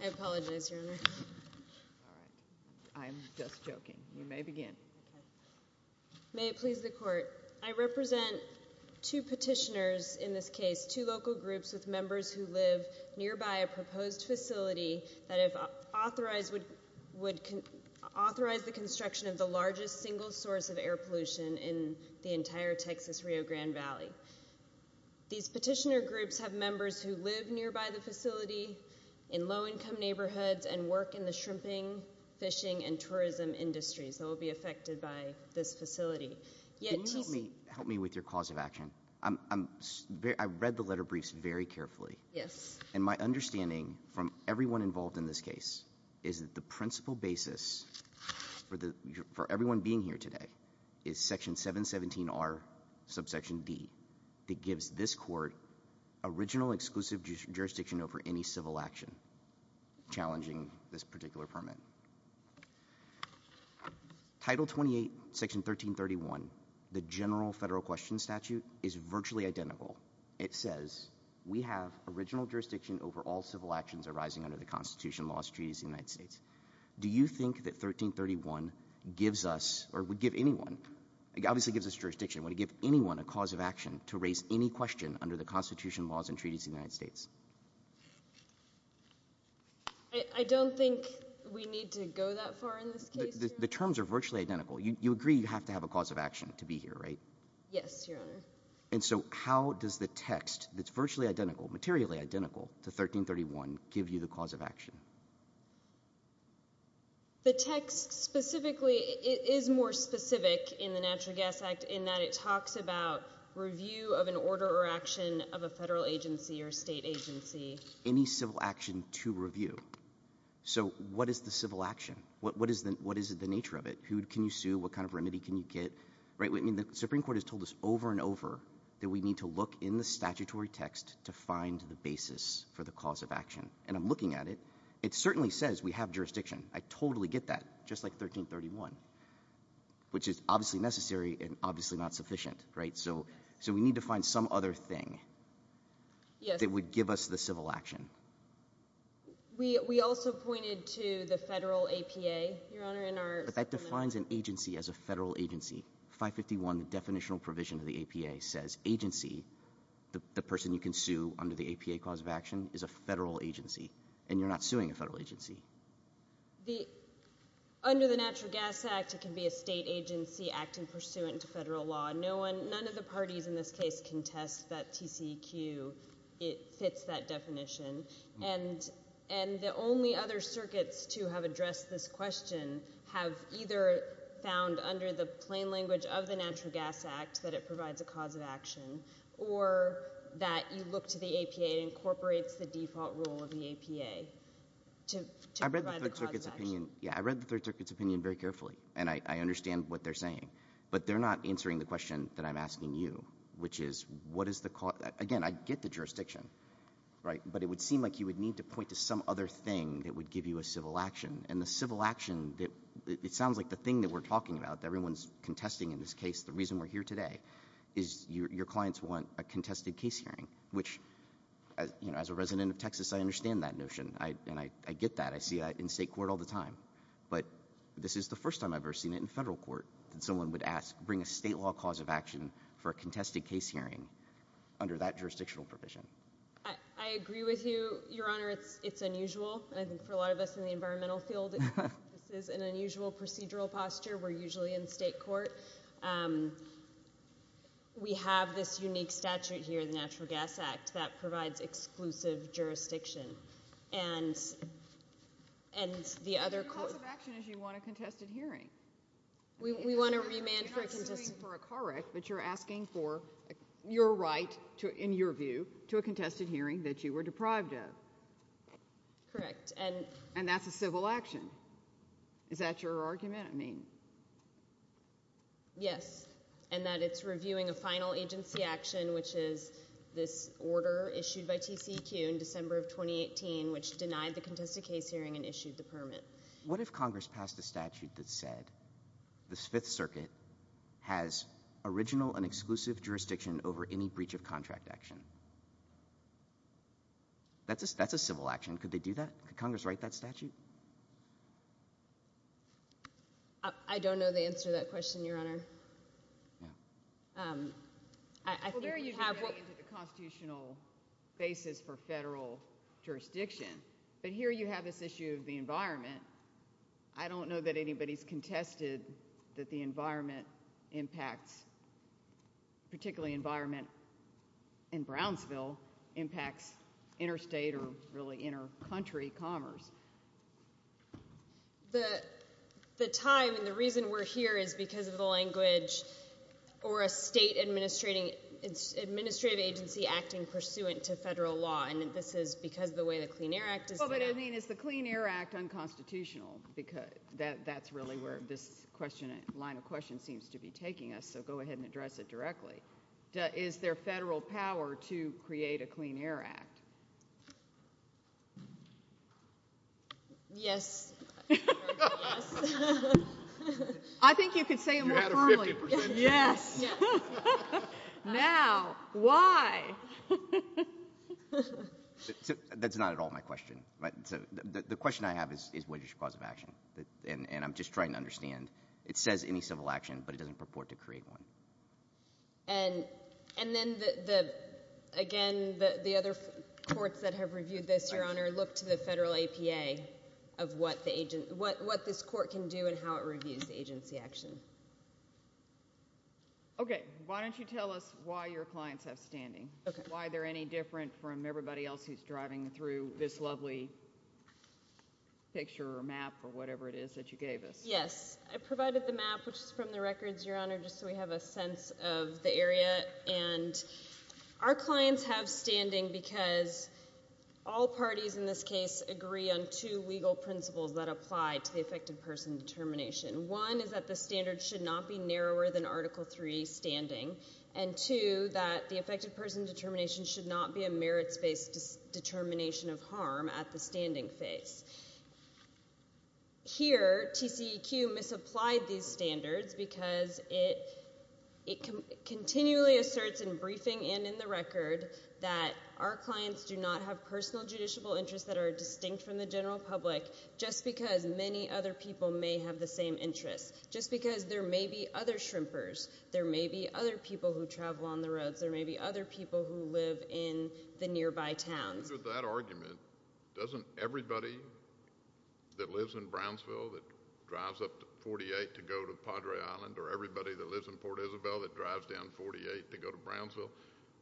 I apologize your honor. I'm just joking. You may begin. May it please the court. I represent two petitioners in this case, two local groups with members who live nearby a proposed facility that have authorized would would authorize the construction of the largest single source of air pollution in the entire Texas Rio Grande Valley. These petitioner groups have members who live nearby the facility in low income neighborhoods and work in the shrimping fishing and tourism industries that will be affected by this facility yet. Help me with your cause of action. I'm I'm I read the letter briefs very carefully. Yes. And my understanding from everyone involved in this case is that the principal basis for the for everyone being here today is section 717 are subsection D. It gives this court original exclusive jurisdiction over any civil action challenging this particular permit title 28 section 1331 the general federal question statute is virtually identical. It says we have original jurisdiction over all civil actions arising under the Constitution laws treaties United States. Do you think that 1331 gives us or would give anyone obviously gives us jurisdiction when you give anyone a cause of action to raise any question under the Constitution laws and treaties United States. I don't think we need to go that far in this case. The terms are virtually identical. You agree you have to have a cause of action to be here. Right. Yes. And so how does the text that's virtually identical materially identical to 1331 give you the cause of action. The text specifically is more specific in the natural gas act in that it talks about review of an order or action of a federal agency or state agency any civil action to review. So what is the civil action. What is the what is the nature of it. Who can you sue. What kind of remedy can you get. Right. I mean the Supreme Court has told us over and over that we need to look in the statutory text to find the basis for the cause of action. And I'm looking at it. It certainly says we have jurisdiction. I totally get that. Just like 1331 which is obviously necessary and obviously not sufficient. Right. So. So we need to find some other thing that would give us the civil action. We also pointed to the federal APA. Your Honor. But that defines an agency as a federal agency. 551 the definitional provision of the APA says agency. The person you can sue under the APA cause of action is a federal agency and you're not suing a federal agency. The under the Natural Gas Act it can be a state agency acting pursuant to federal law. No one. None of the parties in this case contest that TCEQ. It fits that definition. And and the only other circuits to have addressed this question have either found under the plain language of the Natural Gas Act that it provides a cause of action or that you look to the APA incorporates the default rule of the APA. I read the Third Circuit's opinion. Yeah. I read the Third Circuit's opinion very carefully and I understand what they're saying. But they're not answering the question that I'm asking you which is what is the cause. Again I get the jurisdiction. Right. But it would seem like you would need to point to some other thing that would give you a civil action. And the civil action that it sounds like the thing that we're talking about that everyone's contesting in this case the reason we're here today is your clients want a contested case hearing which you know as a resident of Texas I understand that notion. And I get that. I see that in state court all the time. But this is the first time I've ever seen it in federal court that someone would ask bring a state law cause of action for a contested case hearing under that jurisdictional provision. I agree with you. Your Honor it's it's unusual. I think for a lot of us in the environmental field this is an unusual procedural posture. We're usually in state court. We have this unique statute here in the Natural Gas Act that provides exclusive jurisdiction and and the other cause of action is you want a contested hearing. We want to remand for a correct but you're asking for your right to in your view to a contested hearing that you were deprived of. Correct. And and that's a civil action. Is that your argument. I mean yes. And that it's reviewing a final agency action which is this order issued by TCEQ in December of 2018 which denied the contested case hearing and issued the permit. But what if Congress passed a statute that said the Fifth Circuit has original and exclusive jurisdiction over any breach of contract action. That's a that's a civil action. Could they do that. Congress write that statute. I don't know the answer to that question. Your Honor. I don't know that anybody's contested that the environment impacts particularly environment in Brownsville impacts interstate or really intercountry commerce. The the time and the reason we're here is because of the language or a state administrating its administrative agency acting pursuant to federal law. And this is because the way the Clean Air Act. I mean is the Clean Air Act unconstitutional because that's really where this question line of question seems to be taking us. So go ahead and address it directly. Is there federal power to create a Clean Air Act. Yes. I think you could say yes. Now why. That's not at all my question. But the question I have is what is your cause of action. And I'm just trying to understand. It says any civil action but it doesn't purport to create one. And and then the again the other courts that have reviewed this your honor look to the federal APA of what the agent what what this court can do and how it reviews the agency action. OK. Why don't you tell us why your clients have standing. Why they're any different from everybody else who's driving through this lovely picture or map or whatever it is that you gave us. Yes I provided the map which is from the records your honor just so we have a sense of the area and our clients have standing because all parties in this case agree on two legal principles that apply to the affected person determination. One is that the standard should not be narrower than Article 3 standing and to that the affected person determination should not be a merits based determination of harm at the standing face. Here TCEQ misapplied these standards because it it continually asserts in briefing and in the record that our clients do not have personal judiciable interests that are distinct from the general public just because many other people may have the same interest just because there may be other shrimpers. There may be other people who travel on the roads there may be other people who live in the nearby towns. And with that argument doesn't everybody that lives in Brownsville that drives up to 48 to go to Padre Island or everybody that lives in Port Isabel that drives down 48 to go to Brownsville.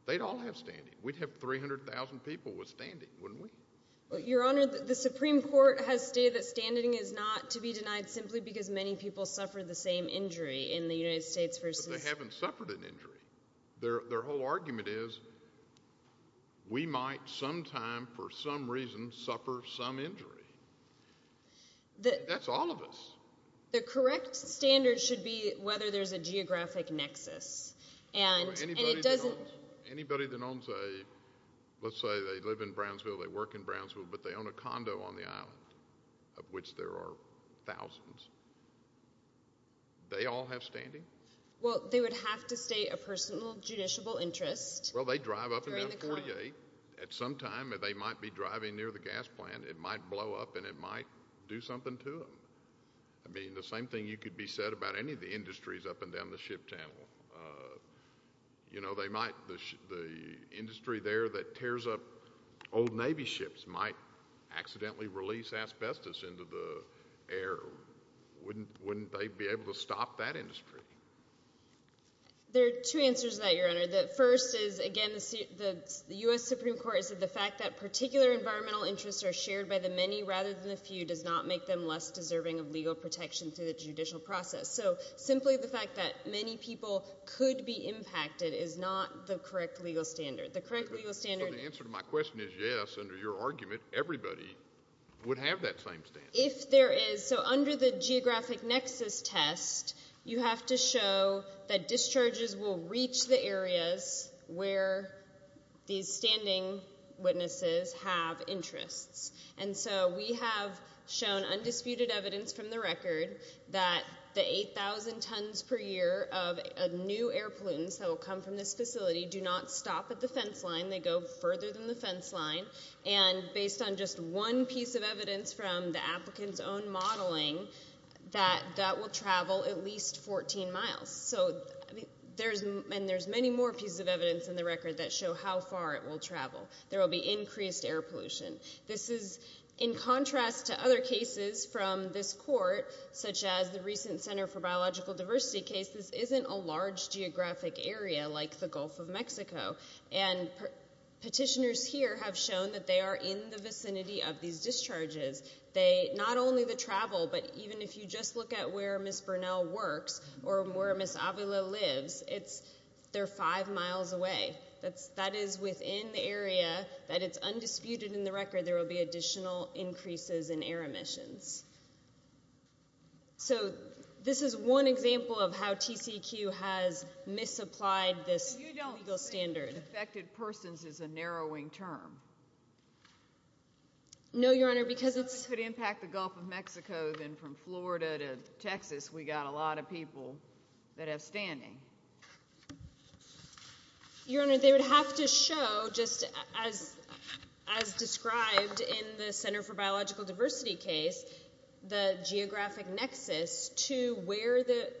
They'd all have standing. We'd have 300000 people with standing wouldn't we. Your honor the Supreme Court has stated that standing is not to be denied simply because many people suffer the same injury in the United States versus. They haven't suffered an injury. Their whole argument is we might sometime for some reason suffer some injury. That's all of us. The correct standard should be whether there's a geographic nexus and it doesn't. Anybody that owns a let's say they live in Brownsville they work in Brownsville but they own a condo on the island of which there are thousands. They all have standing. They would have to state a personal judiciable interest. Well they drive up and down 48. At some time they might be driving near the gas plant. It might blow up and it might do something to them. I mean the same thing you could be said about any of the industries up and down the ship channel. You know they might the industry there that tears up old Navy ships might accidentally release asbestos into the air. Wouldn't they be able to stop that industry. There are two answers to that Your Honor. The first is again the U.S. Supreme Court said the fact that particular environmental interests are shared by the many rather than the few does not make them less deserving of legal protection through the judicial process. So simply the fact that many people could be impacted is not the correct legal standard. The correct legal standard. So the answer to my question is yes under your argument everybody would have that same standard. If there is so under the geographic nexus test you have to show that discharges will reach the areas where these standing witnesses have interests. And so we have shown undisputed evidence from the record that the 8000 tons per year of new air pollutants that will come from this facility do not stop at the fence line. They go further than the fence line. And based on just one piece of evidence from the applicants own modeling that that will travel at least 14 miles. So there's and there's many more pieces of evidence in the record that show how far it will travel. There will be increased air pollution. This is in contrast to other cases from this court such as the recent Center for Biological Diversity case. This isn't a large geographic area like the Gulf of Mexico. And petitioners here have shown that they are in the vicinity of these discharges. They not only the travel but even if you just look at where Miss Burnell works or where Miss Avila lives it's they're five miles away. That's that is within the area that it's undisputed in the record there will be additional increases in air emissions. So this is one example of how TCEQ has misapplied this legal standard. You don't think affected persons is a narrowing term. No, Your Honor, because it's. It could impact the Gulf of Mexico then from Florida to Texas. We got a lot of people that have standing. Your Honor, they would have to show just as as described in the Center for Biological Diversity case. The geographic nexus to where the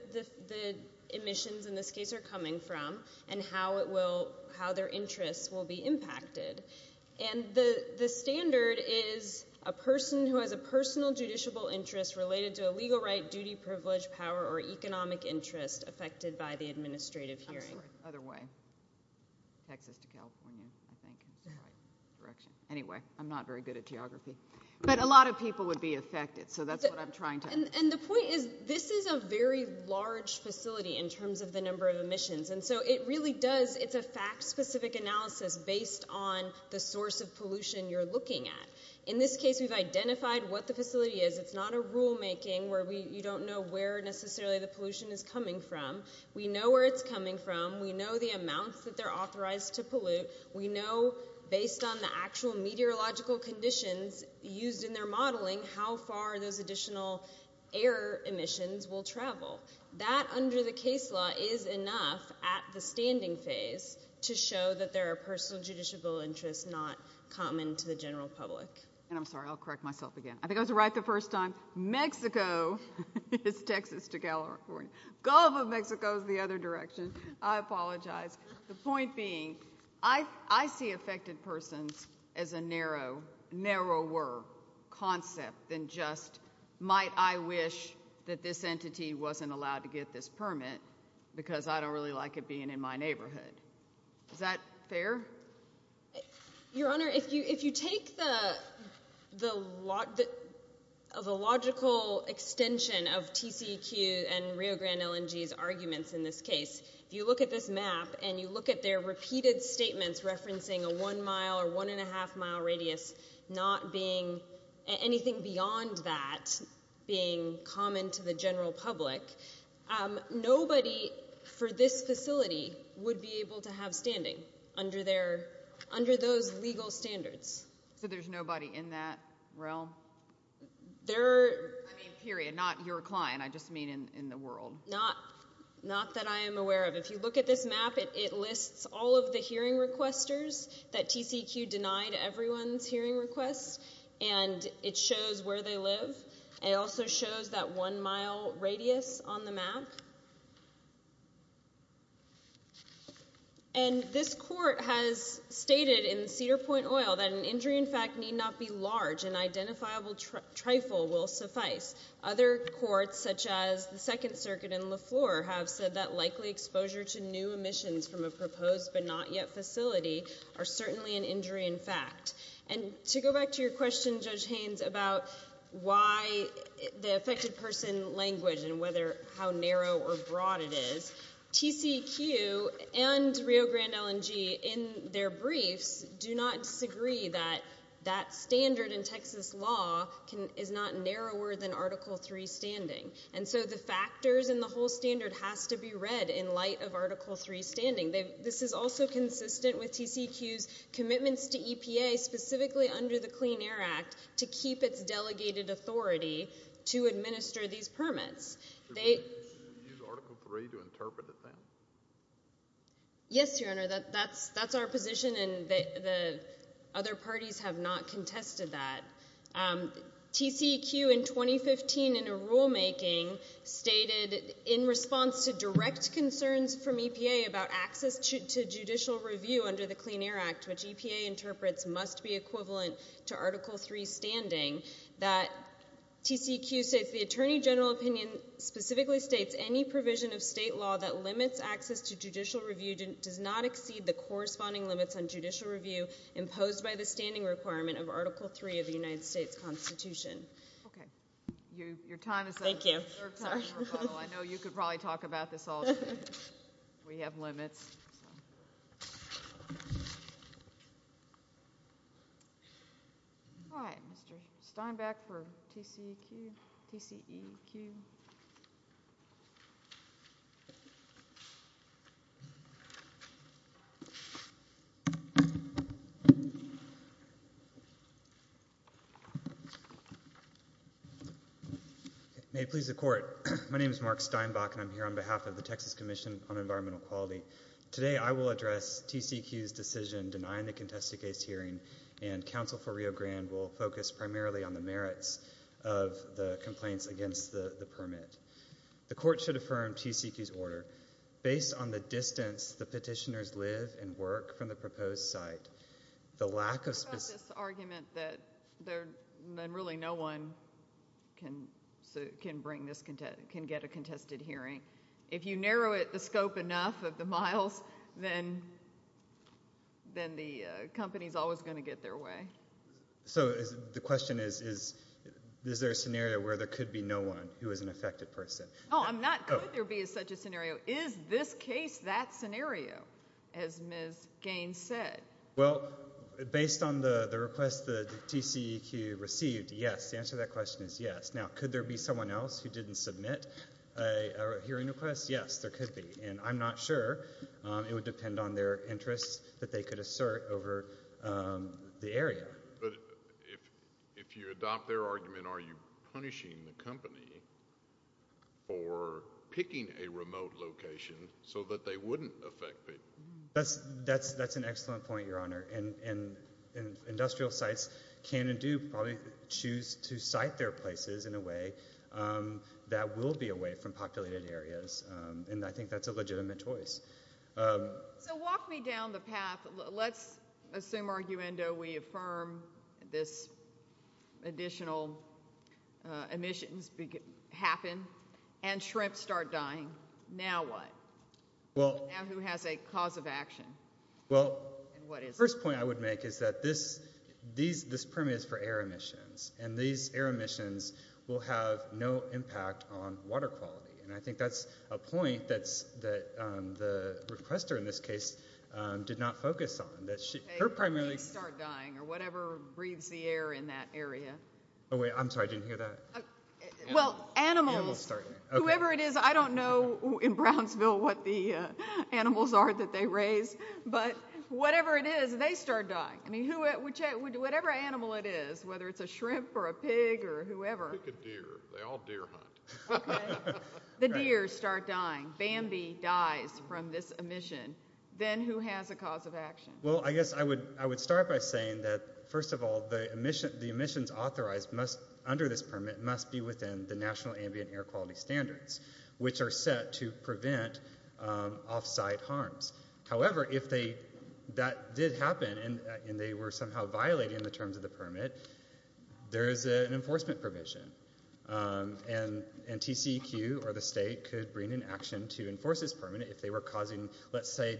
emissions in this case are coming from and how it will how their interests will be impacted. And the standard is a person who has a personal judiciable interest related to a legal right, duty, privilege, power or economic interest affected by the administrative hearing. Other way. Texas to California. Anyway, I'm not very good at geography, but a lot of people would be affected. So that's what I'm trying to. And the point is this is a very large facility in terms of the number of emissions. And so it really does. It's a fact specific analysis based on the source of pollution you're looking at. In this case, we've identified what the facility is. It's not a rulemaking where we you don't know where necessarily the pollution is coming from. We know where it's coming from. We know the amounts that they're authorized to pollute. We know based on the actual meteorological conditions used in their modeling how far those additional air emissions will travel. That under the case law is enough at the standing phase to show that there are personal judiciable interests not common to the general public. And I'm sorry, I'll correct myself again. I think I was right the first time. Mexico is Texas to California. Gulf of Mexico is the other direction. I apologize. The point being, I see affected persons as a narrow, narrower concept than just might I wish that this entity wasn't allowed to get this permit because I don't really like it being in my neighborhood. Is that fair? Your Honor, if you take the logical extension of TCEQ and Rio Grande LNG's arguments in this case, if you look at this map and you look at their repeated statements referencing a one mile or one and a half mile radius, not being anything beyond that being common to the general public, nobody for this facility would be able to have standing under those legal standards. So there's nobody in that realm? I mean period, not your client. I just mean in the world. Not that I am aware of. If you look at this map, it lists all of the hearing requesters that TCEQ denied everyone's hearing requests and it shows where they live. It also shows that one mile radius on the map. And this court has stated in Cedar Point Oil that an injury in fact need not be large. An identifiable trifle will suffice. Other courts such as the Second Circuit and LeFleur have said that likely exposure to new emissions from a proposed but not yet facility are certainly an injury in fact. And to go back to your question, Judge Haynes, about why the affected person language and how narrow or broad it is, TCEQ and Rio Grande LNG in their briefs do not disagree that that standard in Texas law is not narrower than Article 3 standing. And so the factors and the whole standard has to be read in light of Article 3 standing. This is also consistent with TCEQ's commitments to EPA specifically under the Clean Air Act to keep its delegated authority to administer these permits. Do you use Article 3 to interpret it then? Yes, Your Honor, that's our position and the other parties have not contested that. TCEQ in 2015 in a rulemaking stated in response to direct concerns from EPA about access to judicial review under the Clean Air Act, which EPA interprets must be equivalent to Article 3 standing, that TCEQ states, the Attorney General opinion specifically states any provision of state law that limits access to judicial review does not exceed the corresponding limits on judicial review imposed by the standing requirement of Article 3 of the United States Constitution. Okay. Your time is up. Thank you. I know you could probably talk about this all day. We have limits. All right, Mr. Steinbach for TCEQ. TCEQ. Your Honor, my name is Mark Steinbach and I'm here on behalf of the Texas Commission on Environmental Quality. Today I will address TCEQ's decision denying the contested case hearing and counsel for Rio Grande will focus primarily on the merits of the complaints against the permit. The court should affirm TCEQ's order. Based on the distance the petitioners live and work from the proposed site, the lack of specific… We've got this argument that really no one can get a contested hearing. If you narrow the scope enough of the miles, then the company is always going to get their way. So the question is, is there a scenario where there could be no one who is an affected person? No, I'm not. Could there be such a scenario? Is this case that scenario, as Ms. Gaines said? Well, based on the request that TCEQ received, yes. The answer to that question is yes. Now, could there be someone else who didn't submit a hearing request? Yes, there could be. And I'm not sure. It would depend on their interests that they could assert over the area. But if you adopt their argument, are you punishing the company for picking a remote location so that they wouldn't affect people? That's an excellent point, Your Honor. And industrial sites can and do probably choose to site their places in a way that will be away from populated areas. And I think that's a legitimate choice. So walk me down the path. Let's assume, arguendo, we affirm this additional emissions happen and shrimp start dying. Now what? Now who has a cause of action? Well, the first point I would make is that this permit is for air emissions. And these air emissions will have no impact on water quality. And I think that's a point that the requester in this case did not focus on. They start dying or whatever breathes the air in that area. Oh, wait. I'm sorry. I didn't hear that. Well, animals. Whoever it is. I don't know in Brownsville what the animals are that they raise. But whatever it is, they start dying. I mean, whatever animal it is, whether it's a shrimp or a pig or whoever. They all deer hunt. The deer start dying. Bambi dies from this emission. Then who has a cause of action? Well, I guess I would start by saying that, first of all, the emissions authorized under this permit must be within the National Ambient Air Quality Standards, which are set to prevent off-site harms. However, if that did happen and they were somehow violating the terms of the permit, there is an enforcement provision. And TCEQ or the state could bring in action to enforce this permit if they were causing, let's say,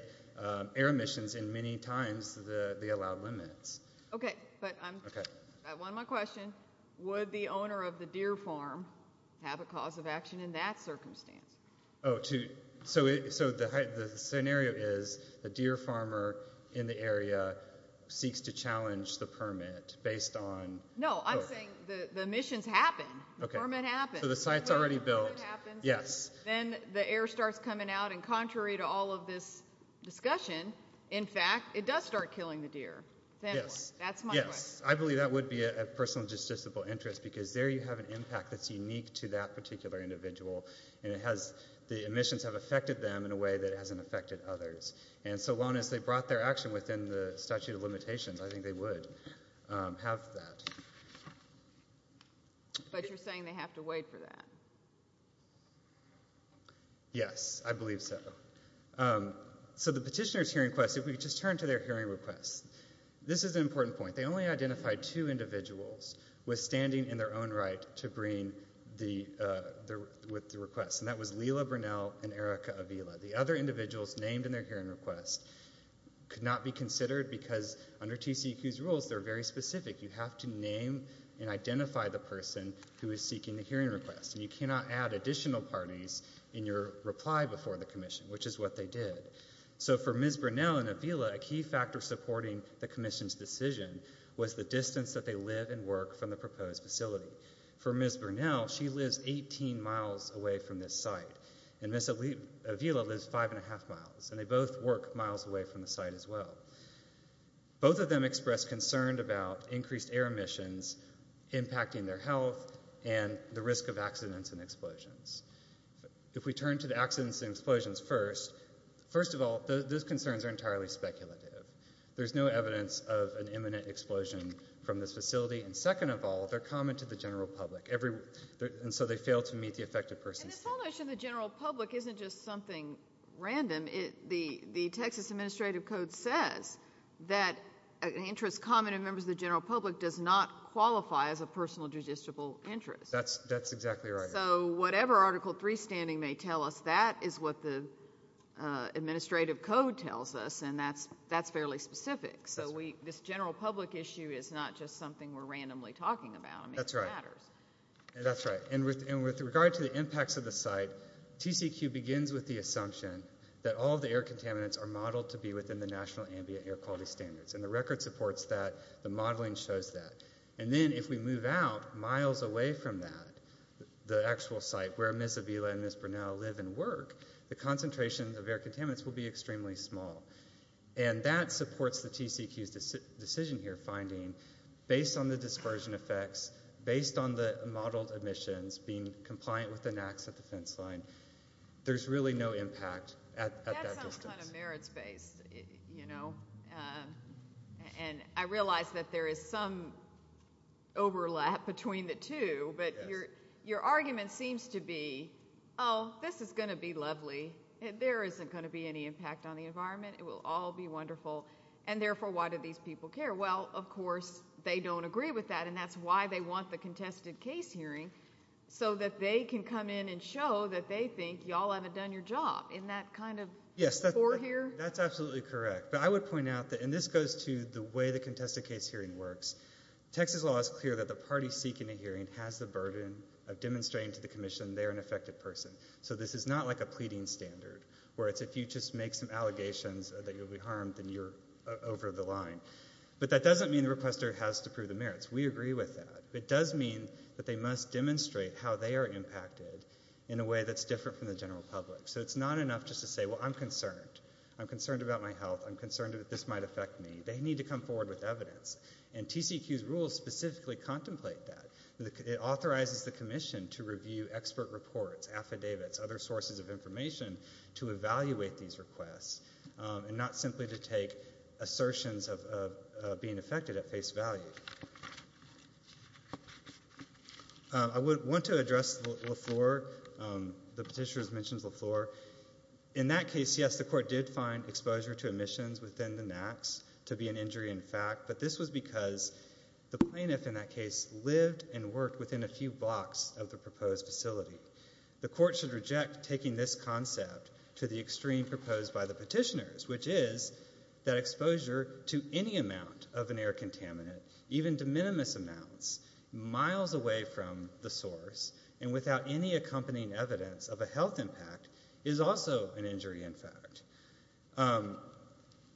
air emissions in many times the allowed limits. Okay. But I have one more question. Would the owner of the deer farm have a cause of action in that circumstance? So the scenario is the deer farmer in the area seeks to challenge the permit based on... No, I'm saying the emissions happen. The permit happens. So the site's already built. Then the air starts coming out, and contrary to all of this discussion, in fact, it does start killing the deer. Yes. I believe that would be a personal and justiciable interest because there you have an impact that's unique to that particular individual. And the emissions have affected them in a way that hasn't affected others. And so long as they brought their action within the statute of limitations, I think they would have that. But you're saying they have to wait for that? Yes. I believe so. So the petitioner's hearing request, if we could just turn to their hearing request. This is an important point. They only identified two individuals with standing in their own right to bring the request. And that was Lila Burnell and Erica Avila. The other individuals named in their hearing request could not be considered because under TCEQ's rules, they're very specific. You have to name and identify the person who is seeking the hearing request. And you cannot add additional parties in your reply before the commission, which is what they did. So for Ms. Burnell and Avila, a key factor supporting the commission's decision was the distance that they live and work from the proposed facility. For Ms. Burnell, she lives 18 miles away from this site. And Ms. Avila lives five and a half miles. And they both work miles away from the site as well. Both of them expressed concern about increased air emissions impacting their health and the risk of accidents and explosions. If we turn to the accidents and explosions first, first of all, those concerns are entirely speculative. There's no evidence of an imminent explosion from this facility. And second of all, they're common to the general public. And so they fail to meet the effective person's needs. And this whole issue of the general public isn't just something random. The Texas Administrative Code says that an interest common to members of the general public does not qualify as a personal judicial interest. That's exactly right. So whatever Article III standing may tell us, that is what the administrative code tells us. And that's fairly specific. So this general public issue is not just something we're randomly talking about. That's right. And with regard to the impacts of the site, TCQ begins with the assumption that all the air contaminants are modeled to be within the national ambient air quality standards. And the record supports that. The modeling shows that. And then if we move out miles away from that, the actual site where Ms. Avila and Ms. Burnell live and work, the concentration of air contaminants will be extremely small. And that supports the TCQ's decision here, finding, based on the dispersion effects, based on the modeled emissions, being compliant with the NAAQS at the fence line, there's really no impact at that distance. That sounds kind of merits-based, you know. And I realize that there is some overlap between the two, but your argument seems to be, oh, this is going to be lovely. There isn't going to be any impact on the environment. It will all be wonderful. And therefore, why do these people care? Well, of course, they don't agree with that. And that's why they want the contested case hearing, so that they can come in and show that they think y'all haven't done your job. Isn't that kind of core here? Yes, that's absolutely correct. But I would point out that, and this goes to the way the contested case hearing works, Texas law is clear that the party seeking a hearing has the burden of demonstrating to the commission they're an affected person. So this is not like a pleading standard, where it's if you just make some allegations that you'll be harmed, then you're over the line. But that doesn't mean the requester has to prove the merits. We agree with that. It does mean that they must demonstrate how they are impacted in a way that's different from the general public. So it's not enough just to say, well, I'm concerned. I'm concerned about my health. I'm concerned that this might affect me. They need to come forward with evidence. And TCEQ's rules specifically contemplate that. It authorizes the commission to review expert reports, affidavits, other sources of information to evaluate these requests and not simply to take assertions of being affected at face value. I would want to address LeFleur. The petitioner mentions LeFleur. In that case, yes, the court did find exposure to emissions within the NACs to be an injury in fact, but this was because the plaintiff in that case lived and worked within a few blocks of the proposed facility. The court should reject taking this concept to the extreme proposed by the petitioners, which is that exposure to any amount of an air contaminant, even to minimum amounts, miles away from the source and without any accompanying evidence of a health impact is also an injury in fact.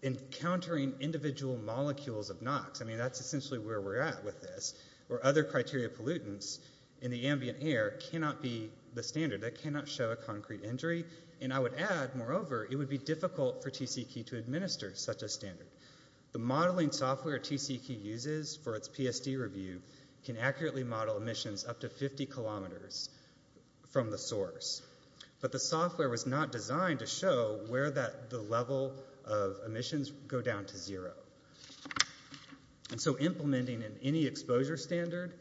Encountering individual molecules of NOx, I mean, that's essentially where we're at with this, other criteria pollutants in the ambient air cannot be the standard. That cannot show a concrete injury and I would add, moreover, it would be difficult for TCEQ to administer such a standard. The modeling software TCEQ uses for its PSD review can accurately model emissions up to 50 kilometers from the source, but the software was not designed to show where the level of emissions go down to zero. And so implementing any exposure standard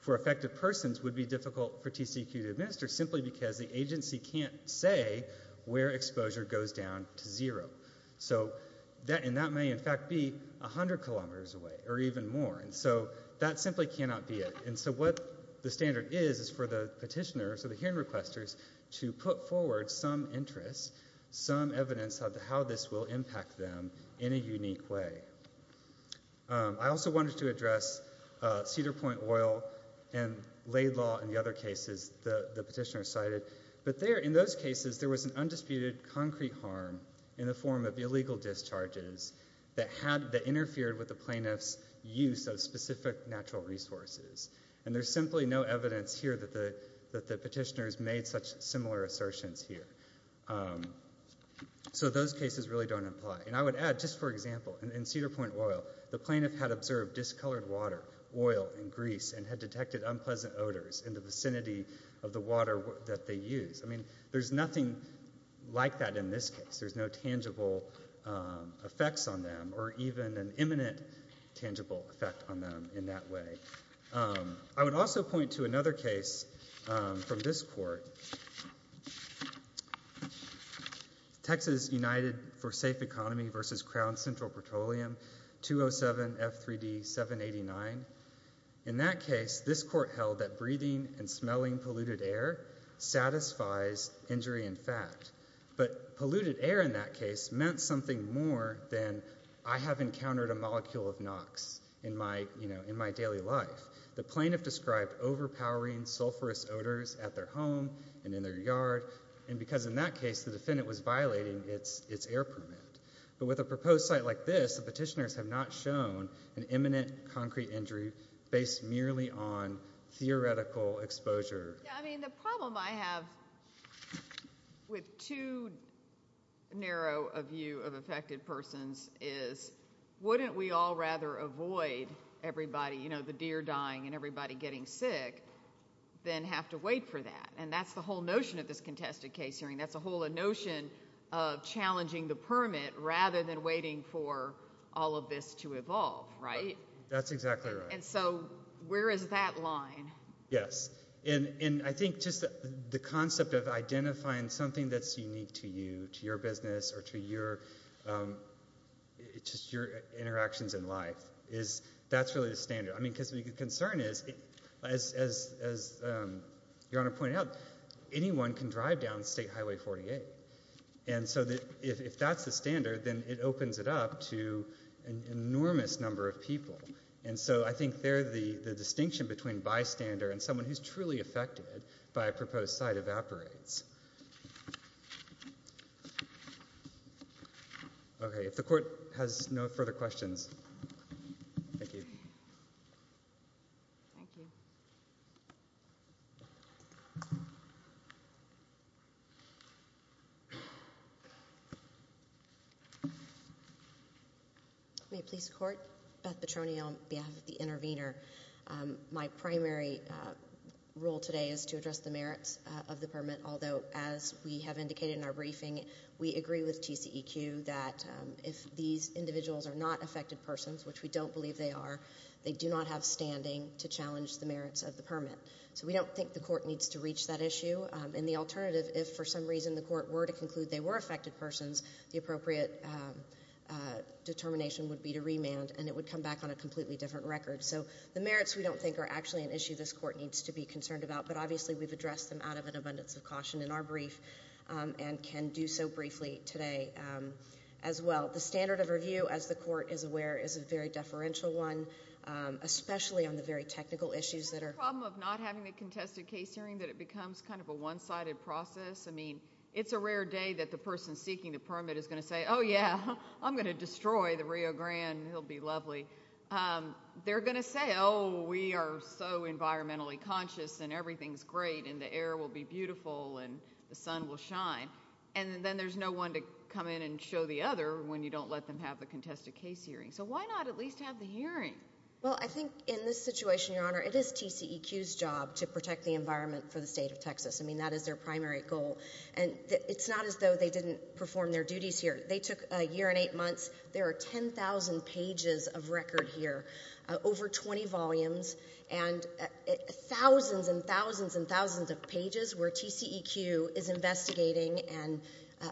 for affected persons would be difficult for TCEQ to administer simply because the agency can't say where exposure goes down to zero. And that may in fact be 100 kilometers away or even more. And so that simply cannot be it. And so what the standard is is for the petitioners or the hearing requesters to put forward some interest, some evidence of how this will impact them in a unique way. I also wanted to address Cedar Point Oil and Laid Law and the other cases the petitioner cited. But there, in those cases, there was an undisputed concrete harm in the form of illegal discharges that had, that interfered with the plaintiff's use of specific natural resources. And there's simply no evidence here that the petitioners made such similar assertions here. So those cases really don't apply. And I would add, just for example, in Cedar Point Oil, the plaintiff had observed discolored water, oil, and grease and had detected unpleasant odors in the vicinity of the water that they used. I mean, there's nothing like that in this case. There's no tangible effects on them or even an imminent tangible effect on them in that way. I would also point to another case from this court. So, Texas United for Safe Economy versus Crown Central Petroleum, 207 F3D 789. In that case, this court held that breathing and smelling polluted air satisfies injury and fat. But polluted air in that case meant something more than I have encountered a molecule of NOx in my daily life. The plaintiff described overpowering sulfurous odors at their home and in their yard, and because in that case, the defendant was violating its air permit. But with a proposed site like this, the petitioners have not shown an imminent concrete injury based merely on theoretical exposure. Yeah, I mean, the problem I have with too narrow a view of affected persons is wouldn't we all rather avoid everybody, you know, the deer dying and everybody getting sick, than have to wait for that? And that's the whole notion of this contested case hearing. That's a whole notion of challenging the permit rather than waiting for all of this to evolve, right? That's exactly right. And so, where is that line? Yes, and I think just the concept of identifying something that's unique to you, to your business, or to your interactions in life, that's really the standard. I mean, because the concern is, as Your Honor pointed out, anyone can drive down State Highway 48. And so, if that's the standard, then it opens it up to an enormous number of people. And so, I think there, the distinction between bystander and someone who's truly affected by a proposed site evaporates. Okay, if the Court has no further questions. Thank you. Thank you. May it please the Court? Beth Petroni on behalf of the intervener. My primary role today is to address the merits of the permit. Although, as we have indicated in our briefing, we agree with TCEQ that if these individuals are not affected persons, which we don't believe they are, they would not have standing to challenge the merits of the permit. So, we don't think the Court needs to reach that issue. And the alternative, if for some reason the Court were to conclude they were affected persons, the appropriate determination would be to remand, and it would come back on a completely different record. So, the merits we don't think are actually an issue this Court needs to be concerned about, but obviously we've addressed them out of an abundance of caution in our brief, and can do so briefly today as well. The standard of review, as the Court is aware, is a very deferential one, especially on the very technical issues that are... Is the problem of not having the contested case hearing that it becomes kind of a one-sided process? I mean, it's a rare day that the person seeking the permit is going to say, oh, yeah, I'm going to destroy the Rio Grande and it'll be lovely. They're going to say, oh, we are so environmentally conscious and everything's great and the air will be beautiful and the sun will shine. And then there's no one to come in and show the other when you don't let them have the contested case hearing. Why not at least have the hearing? Well, I think in this situation, Your Honor, it is TCEQ's job to protect the environment for the state of Texas. I mean, that is their primary goal. And it's not as though they didn't perform their duties here. They took a year and eight months. There are 10,000 pages of record here, over 20 volumes, and thousands and thousands and thousands of pages where TCEQ is investigating and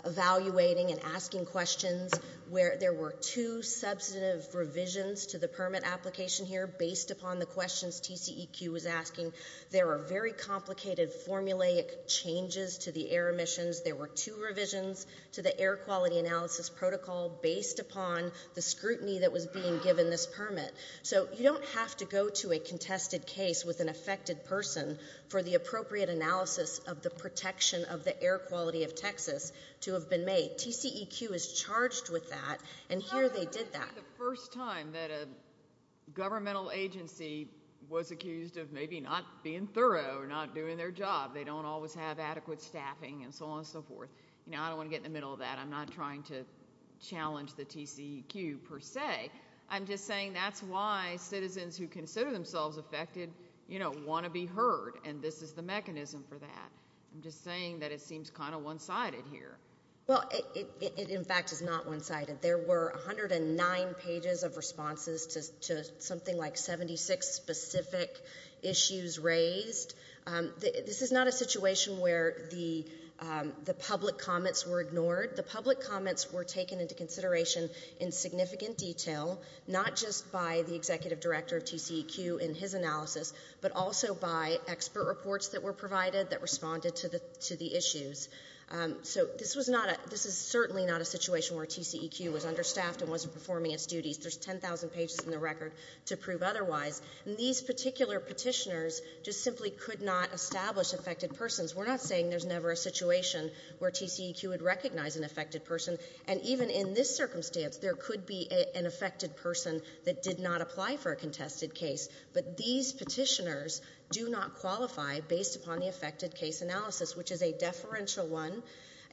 evaluating and asking questions, where there were two substantive revisions to the permit application here based upon the questions TCEQ was asking. There are very complicated formulaic changes to the air emissions. There were two revisions to the air quality analysis protocol based upon the scrutiny that was being given this permit. So you don't have to go to a contested case with an affected person for the appropriate analysis of the protection of the air quality of Texas to have been made. The TCEQ is charged with that. And here they did that. The first time that a governmental agency was accused of maybe not being thorough or not doing their job. They don't always have adequate staffing and so on and so forth. You know, I don't want to get in the middle of that. I'm not trying to challenge the TCEQ per se. I'm just saying that's why citizens who consider themselves affected, you know, want to be heard. And this is the mechanism for that. I'm just saying that it seems kind of one-sided here. Well, it in fact is not one-sided. There were 109 pages of responses to something like 76 specific issues raised. This is not a situation where the public comments were ignored. The public comments were taken into consideration in significant detail, not just by the executive director of TCEQ in his analysis, but also by expert reports that were provided that responded to the issues. So this was not a, this is certainly not a situation where TCEQ was understaffed and wasn't performing its duties. There's 10,000 pages in the record to prove otherwise. And these particular petitioners just simply could not establish affected persons. We're not saying there's never a situation where TCEQ would recognize an affected person. And even in this circumstance, there could be an affected person that did not apply for a contested case. But these petitioners do not qualify based upon the affected case analysis, which is a deferential one,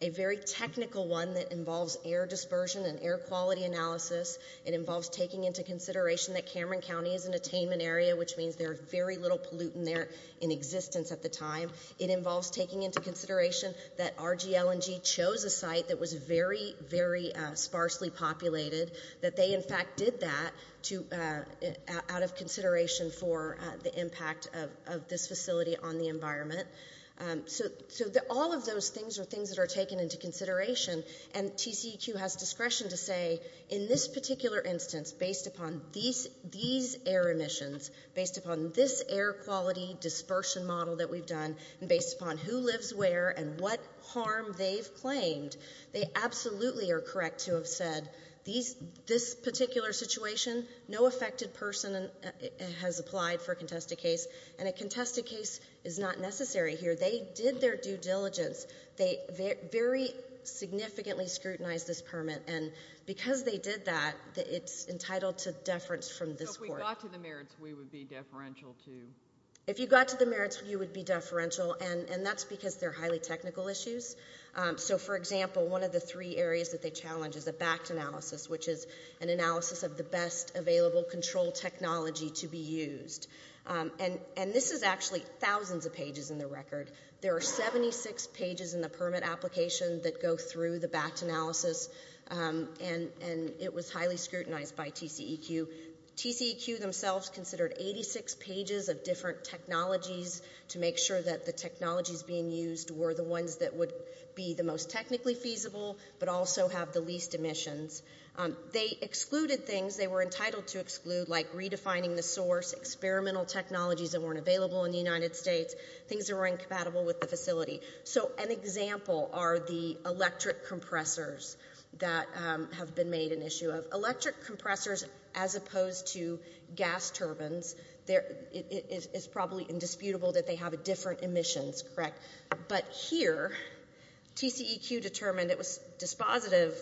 a very technical one that involves air dispersion and air quality analysis. It involves taking into consideration that Cameron County is an attainment area, which means there are very little pollutant there in existence at the time. It involves taking into consideration that RGL&G chose a site that was very, very sparsely populated, that they in fact did that out of consideration for the impact of this facility on the environment. So all of those things are things that are taken into consideration. And TCEQ has discretion to say, in this particular instance, based upon these air emissions, based upon this air quality dispersion model that we've done, and based upon who lives where and what harm they've claimed, they absolutely are correct to have said, this particular situation, no affected person has applied for a contested case. And a contested case is not necessary here. They did their due diligence. They very significantly scrutinized this permit. And because they did that, it's entitled to deference from this court. So if we got to the merits, we would be deferential too? If you got to the merits, you would be deferential. And that's because they're highly technical issues. So for example, one of the three areas that they challenge is a backed analysis, which is an analysis of the best available control technology to be used. There are 76 pages in the permit application that go through the backed analysis, and it was highly scrutinized by TCEQ. TCEQ themselves considered 86 pages of different technologies to make sure that the technologies being used were the ones that would be the most technically feasible, but also have the least emissions. They excluded things they were entitled to exclude, like redefining the source, experimental technologies that weren't available in the United States, that weren't available with the facility. So an example are the electric compressors that have been made an issue of. Electric compressors, as opposed to gas turbines, it's probably indisputable that they have different emissions, correct? But here, TCEQ determined it was dispositive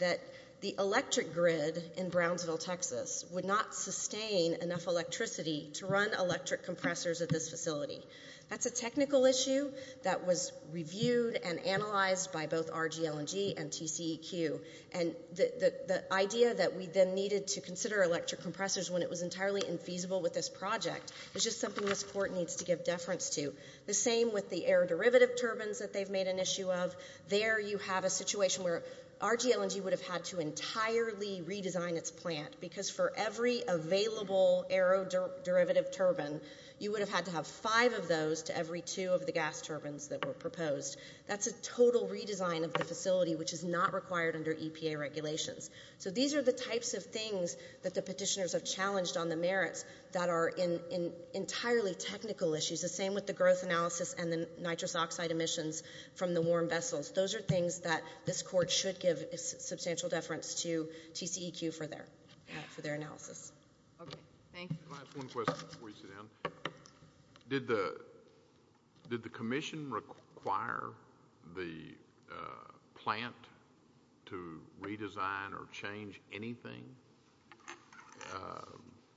that the electric grid in Brownsville, Texas, would not sustain enough electricity to run electric compressors at this facility. That's a technical issue that was reviewed and analyzed by both RGL&G and TCEQ. And the idea that we then needed to consider electric compressors when it was entirely infeasible with this project is just something this court needs to give deference to. The same with the aeroderivative turbines that they've made an issue of. There you have a situation where RGL&G would have had to entirely redesign its plant, because for every available aeroderivative turbine, you would have had to have five of those to every two of the gas turbines that were proposed. That's a total redesign of the facility which is not required under EPA regulations. So these are the types of things that the petitioners have challenged on the merits that are entirely technical issues. The same with the growth analysis and the nitrous oxide emissions from the warm vessels. Those are things that this court should give substantial deference to TCEQ for their analysis. Okay, thank you. Can I ask one question before you sit down? Did the commission require the plant to redesign or change anything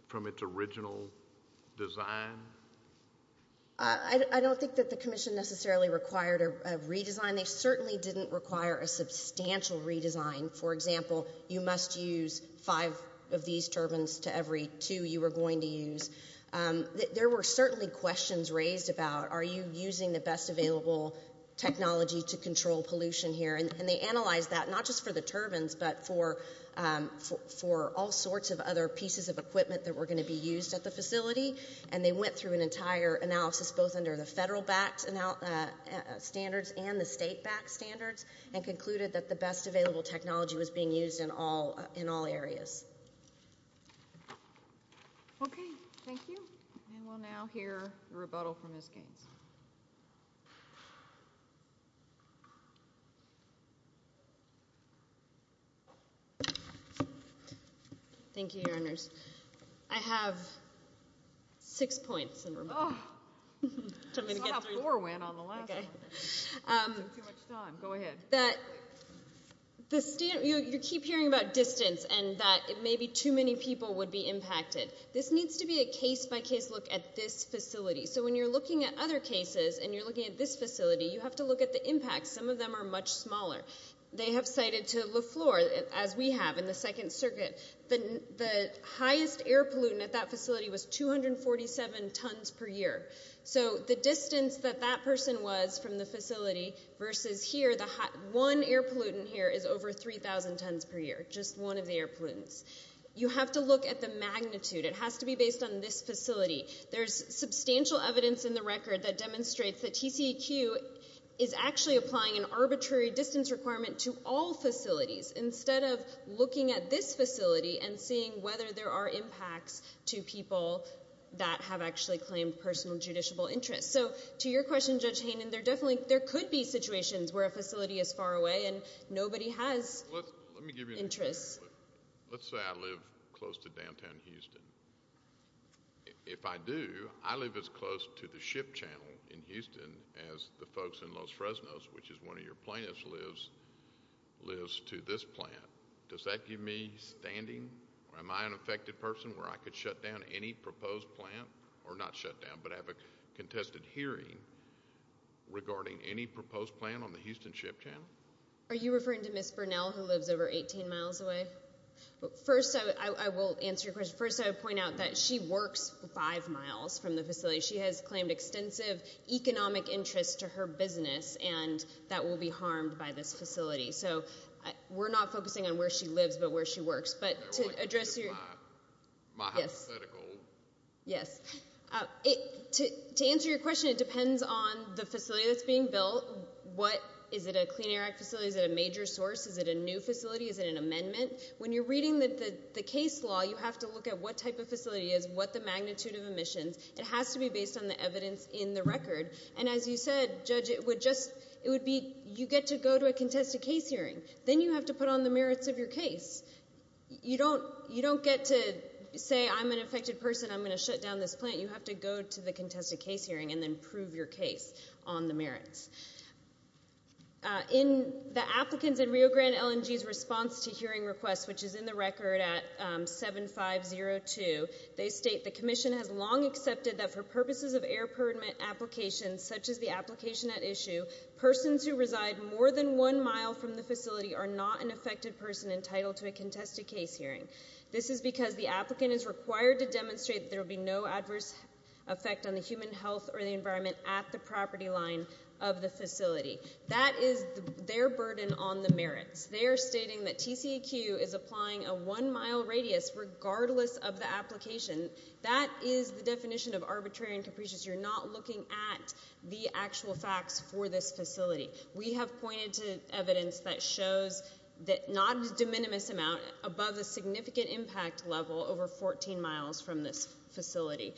from its original design? I don't think that the commission necessarily required a redesign. They certainly didn't require a substantial redesign. For example, you must use five of these turbines to every two you were going to use. There were certainly questions raised about are you using the best available technology to control pollution here? And they analyzed that, not just for the turbines, but for all sorts of other pieces of equipment that were going to be used at the facility. And they went through an entire analysis both under the federal-backed standards and the state-backed standards and concluded that the best available technology was being used in all areas. Okay, thank you. And we'll now hear the rebuttal from Ms. Gaines. Thank you, Your Honors. I have six points in rebuttal. I still have four, Wyn, on the last one. I'm taking too much time. Go ahead. You keep hearing about distance and that maybe too many people would be impacted. This needs to be a case-by-case look at this facility. So when you're looking at other cases and you're looking at this facility, you have to look at the impact. Some of them are much smaller. They have cited Leflore, as we have in the Second Circuit. The highest air pollutant at that facility was 247 tons per year. So the distance that that person was from the facility versus here, one air pollutant here is over 3,000 tons per year, which is the highest air pollutants. You have to look at the magnitude. It has to be based on this facility. There's substantial evidence in the record that demonstrates that TCEQ is actually applying an arbitrary distance requirement to all facilities instead of looking at this facility and seeing whether there are impacts to people that have actually claimed personal judiciable interests. So to your question, Judge Hayden, there could be situations where a facility is far away and nobody has interests. Let's say I live close to downtown Houston. If I do, I live as close to the ship channel in Houston as the folks in Los Fresnos, which is where one of your plaintiffs lives, lives to this plant. Does that give me standing? Or am I an affected person where I could shut down any proposed plant? Or not shut down, but have a contested hearing regarding any proposed plant on the Houston ship channel? Are you referring to Ms. Burnell, who lives over 18 miles away? First, I will answer your question. First, I would point out that she works five miles from the facility. She has claimed extensive economic interests to her business, and that will be harmed by this facility. So we're not focusing on where she lives, but where she works. But to address your... My hypothetical... Yes. To answer your question, it depends on the facility that's being built. Is it a Clean Air Act facility? Is it a new facility? Is it an amendment? When you're reading the case law, you have to look at what type of facility it is, what the magnitude of emissions. It has to be based on the evidence in the record. And as you said, Judge, it would be you get to go to a contested case hearing. Then you have to put on the merits of your case. You don't get to say, I'm an affected person, I'm going to shut down this plant. You have to go to the contested case hearing and then prove your case on the merits. The applicants in Rio Grande LNG's response to hearing requests, which is in the record at 7502, they state, the commission has long accepted that for purposes of air permit applications such as the application at issue, persons who reside more than one mile from the facility are not an affected person entitled to a contested case hearing. This is because the applicant is required to demonstrate that there will be no adverse effect on the human health or the environment at the property line of the applicant. That is the definition of the facility. That is their burden on the merits. They are stating that TCEQ is applying a one mile radius regardless of the application. That is the definition of arbitrary and capricious. You're not looking at the actual facts for this facility. We have pointed to evidence that shows that not a de minimis amount above the significant impact level over 14 miles from this facility.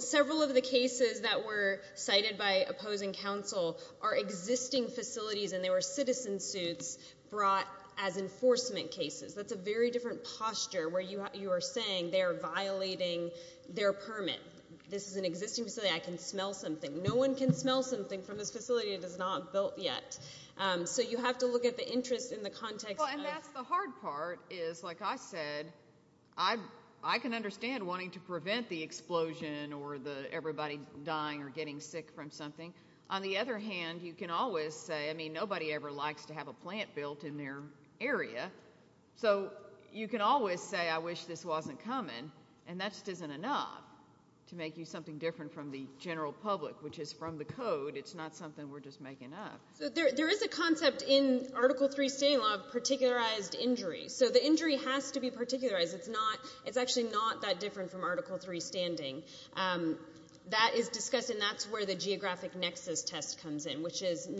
Several of the cases that were cited by opposing counsel are existing facilities and they were citizen suits brought as enforcement cases. That's a very different posture where you are saying they are violating their permit. This is an existing facility. I can smell something. No one can smell something from this facility that is not built yet. You have to look at the interest in the context. That's the hard part. Like I said, I can understand wanting to prevent the explosion but you can always say nobody ever likes to have a plant built in their area. You can always say I wish this wasn't coming and that just isn't enough to make you something different from the general public which is from the code. It's not something we're just making up. There is a concept in Article 3 standing law of particularized injuries. The injury has to be particularized. It's actually not that different from Article 3 standing. It's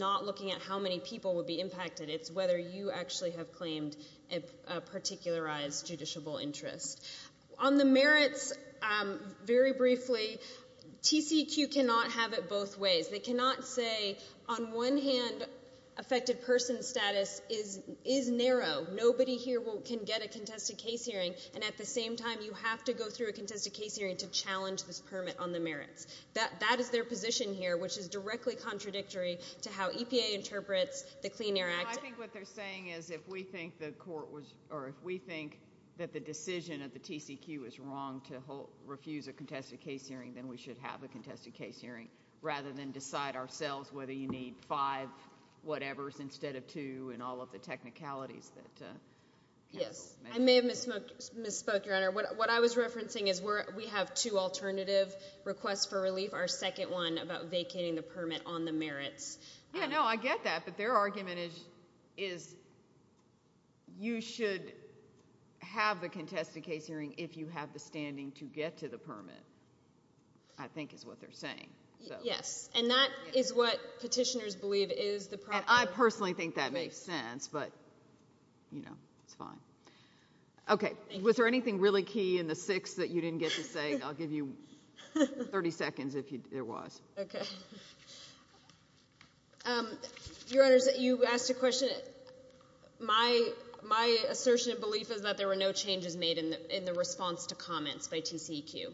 not looking at how many people would be impacted. It's whether you actually have claimed a particularized judiciable interest. On the merits, very briefly, TCEQ cannot have it both ways. They cannot say on one hand, affected person status is narrow. Nobody here can get a contested case hearing and at the same time you have to go through a contested case hearing to how EPA interprets the Clean Air Act. I think what they're saying is if we think that the decision of the TCEQ is wrong to refuse a contested case hearing then we should have a contested case hearing rather than decide ourselves whether you need five whatever's instead of two and all of the technicalities. I may have misspoke, Your Honor. What I was referencing is we have two alternative requests for relief. Yeah, no, I get that. But their argument is you should have the contested case hearing if you have the standing to get to the permit I think is what they're saying. Yes, and that is what petitioners believe is the problem. I personally think that makes sense but, you know, it's fine. Okay, was there anything really key in the six that you didn't get to say? I'll give you 30 seconds if there was. Your Honor, you asked a question. My assertion and belief is that there were no changes made in the response to comments by TCEQ.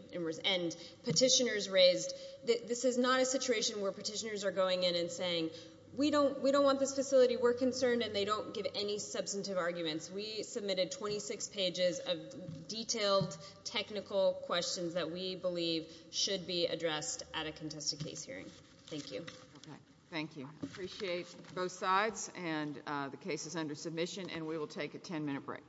And petitioners raised this is not a situation where petitioners are going in and saying we don't want this facility. We're concerned and they don't give any substantive arguments. We submitted 26 pages of detailed technical questions that we believe should be addressed at a contested case hearing. I appreciate both sides and the case is under submission and we will take a 10-minute break.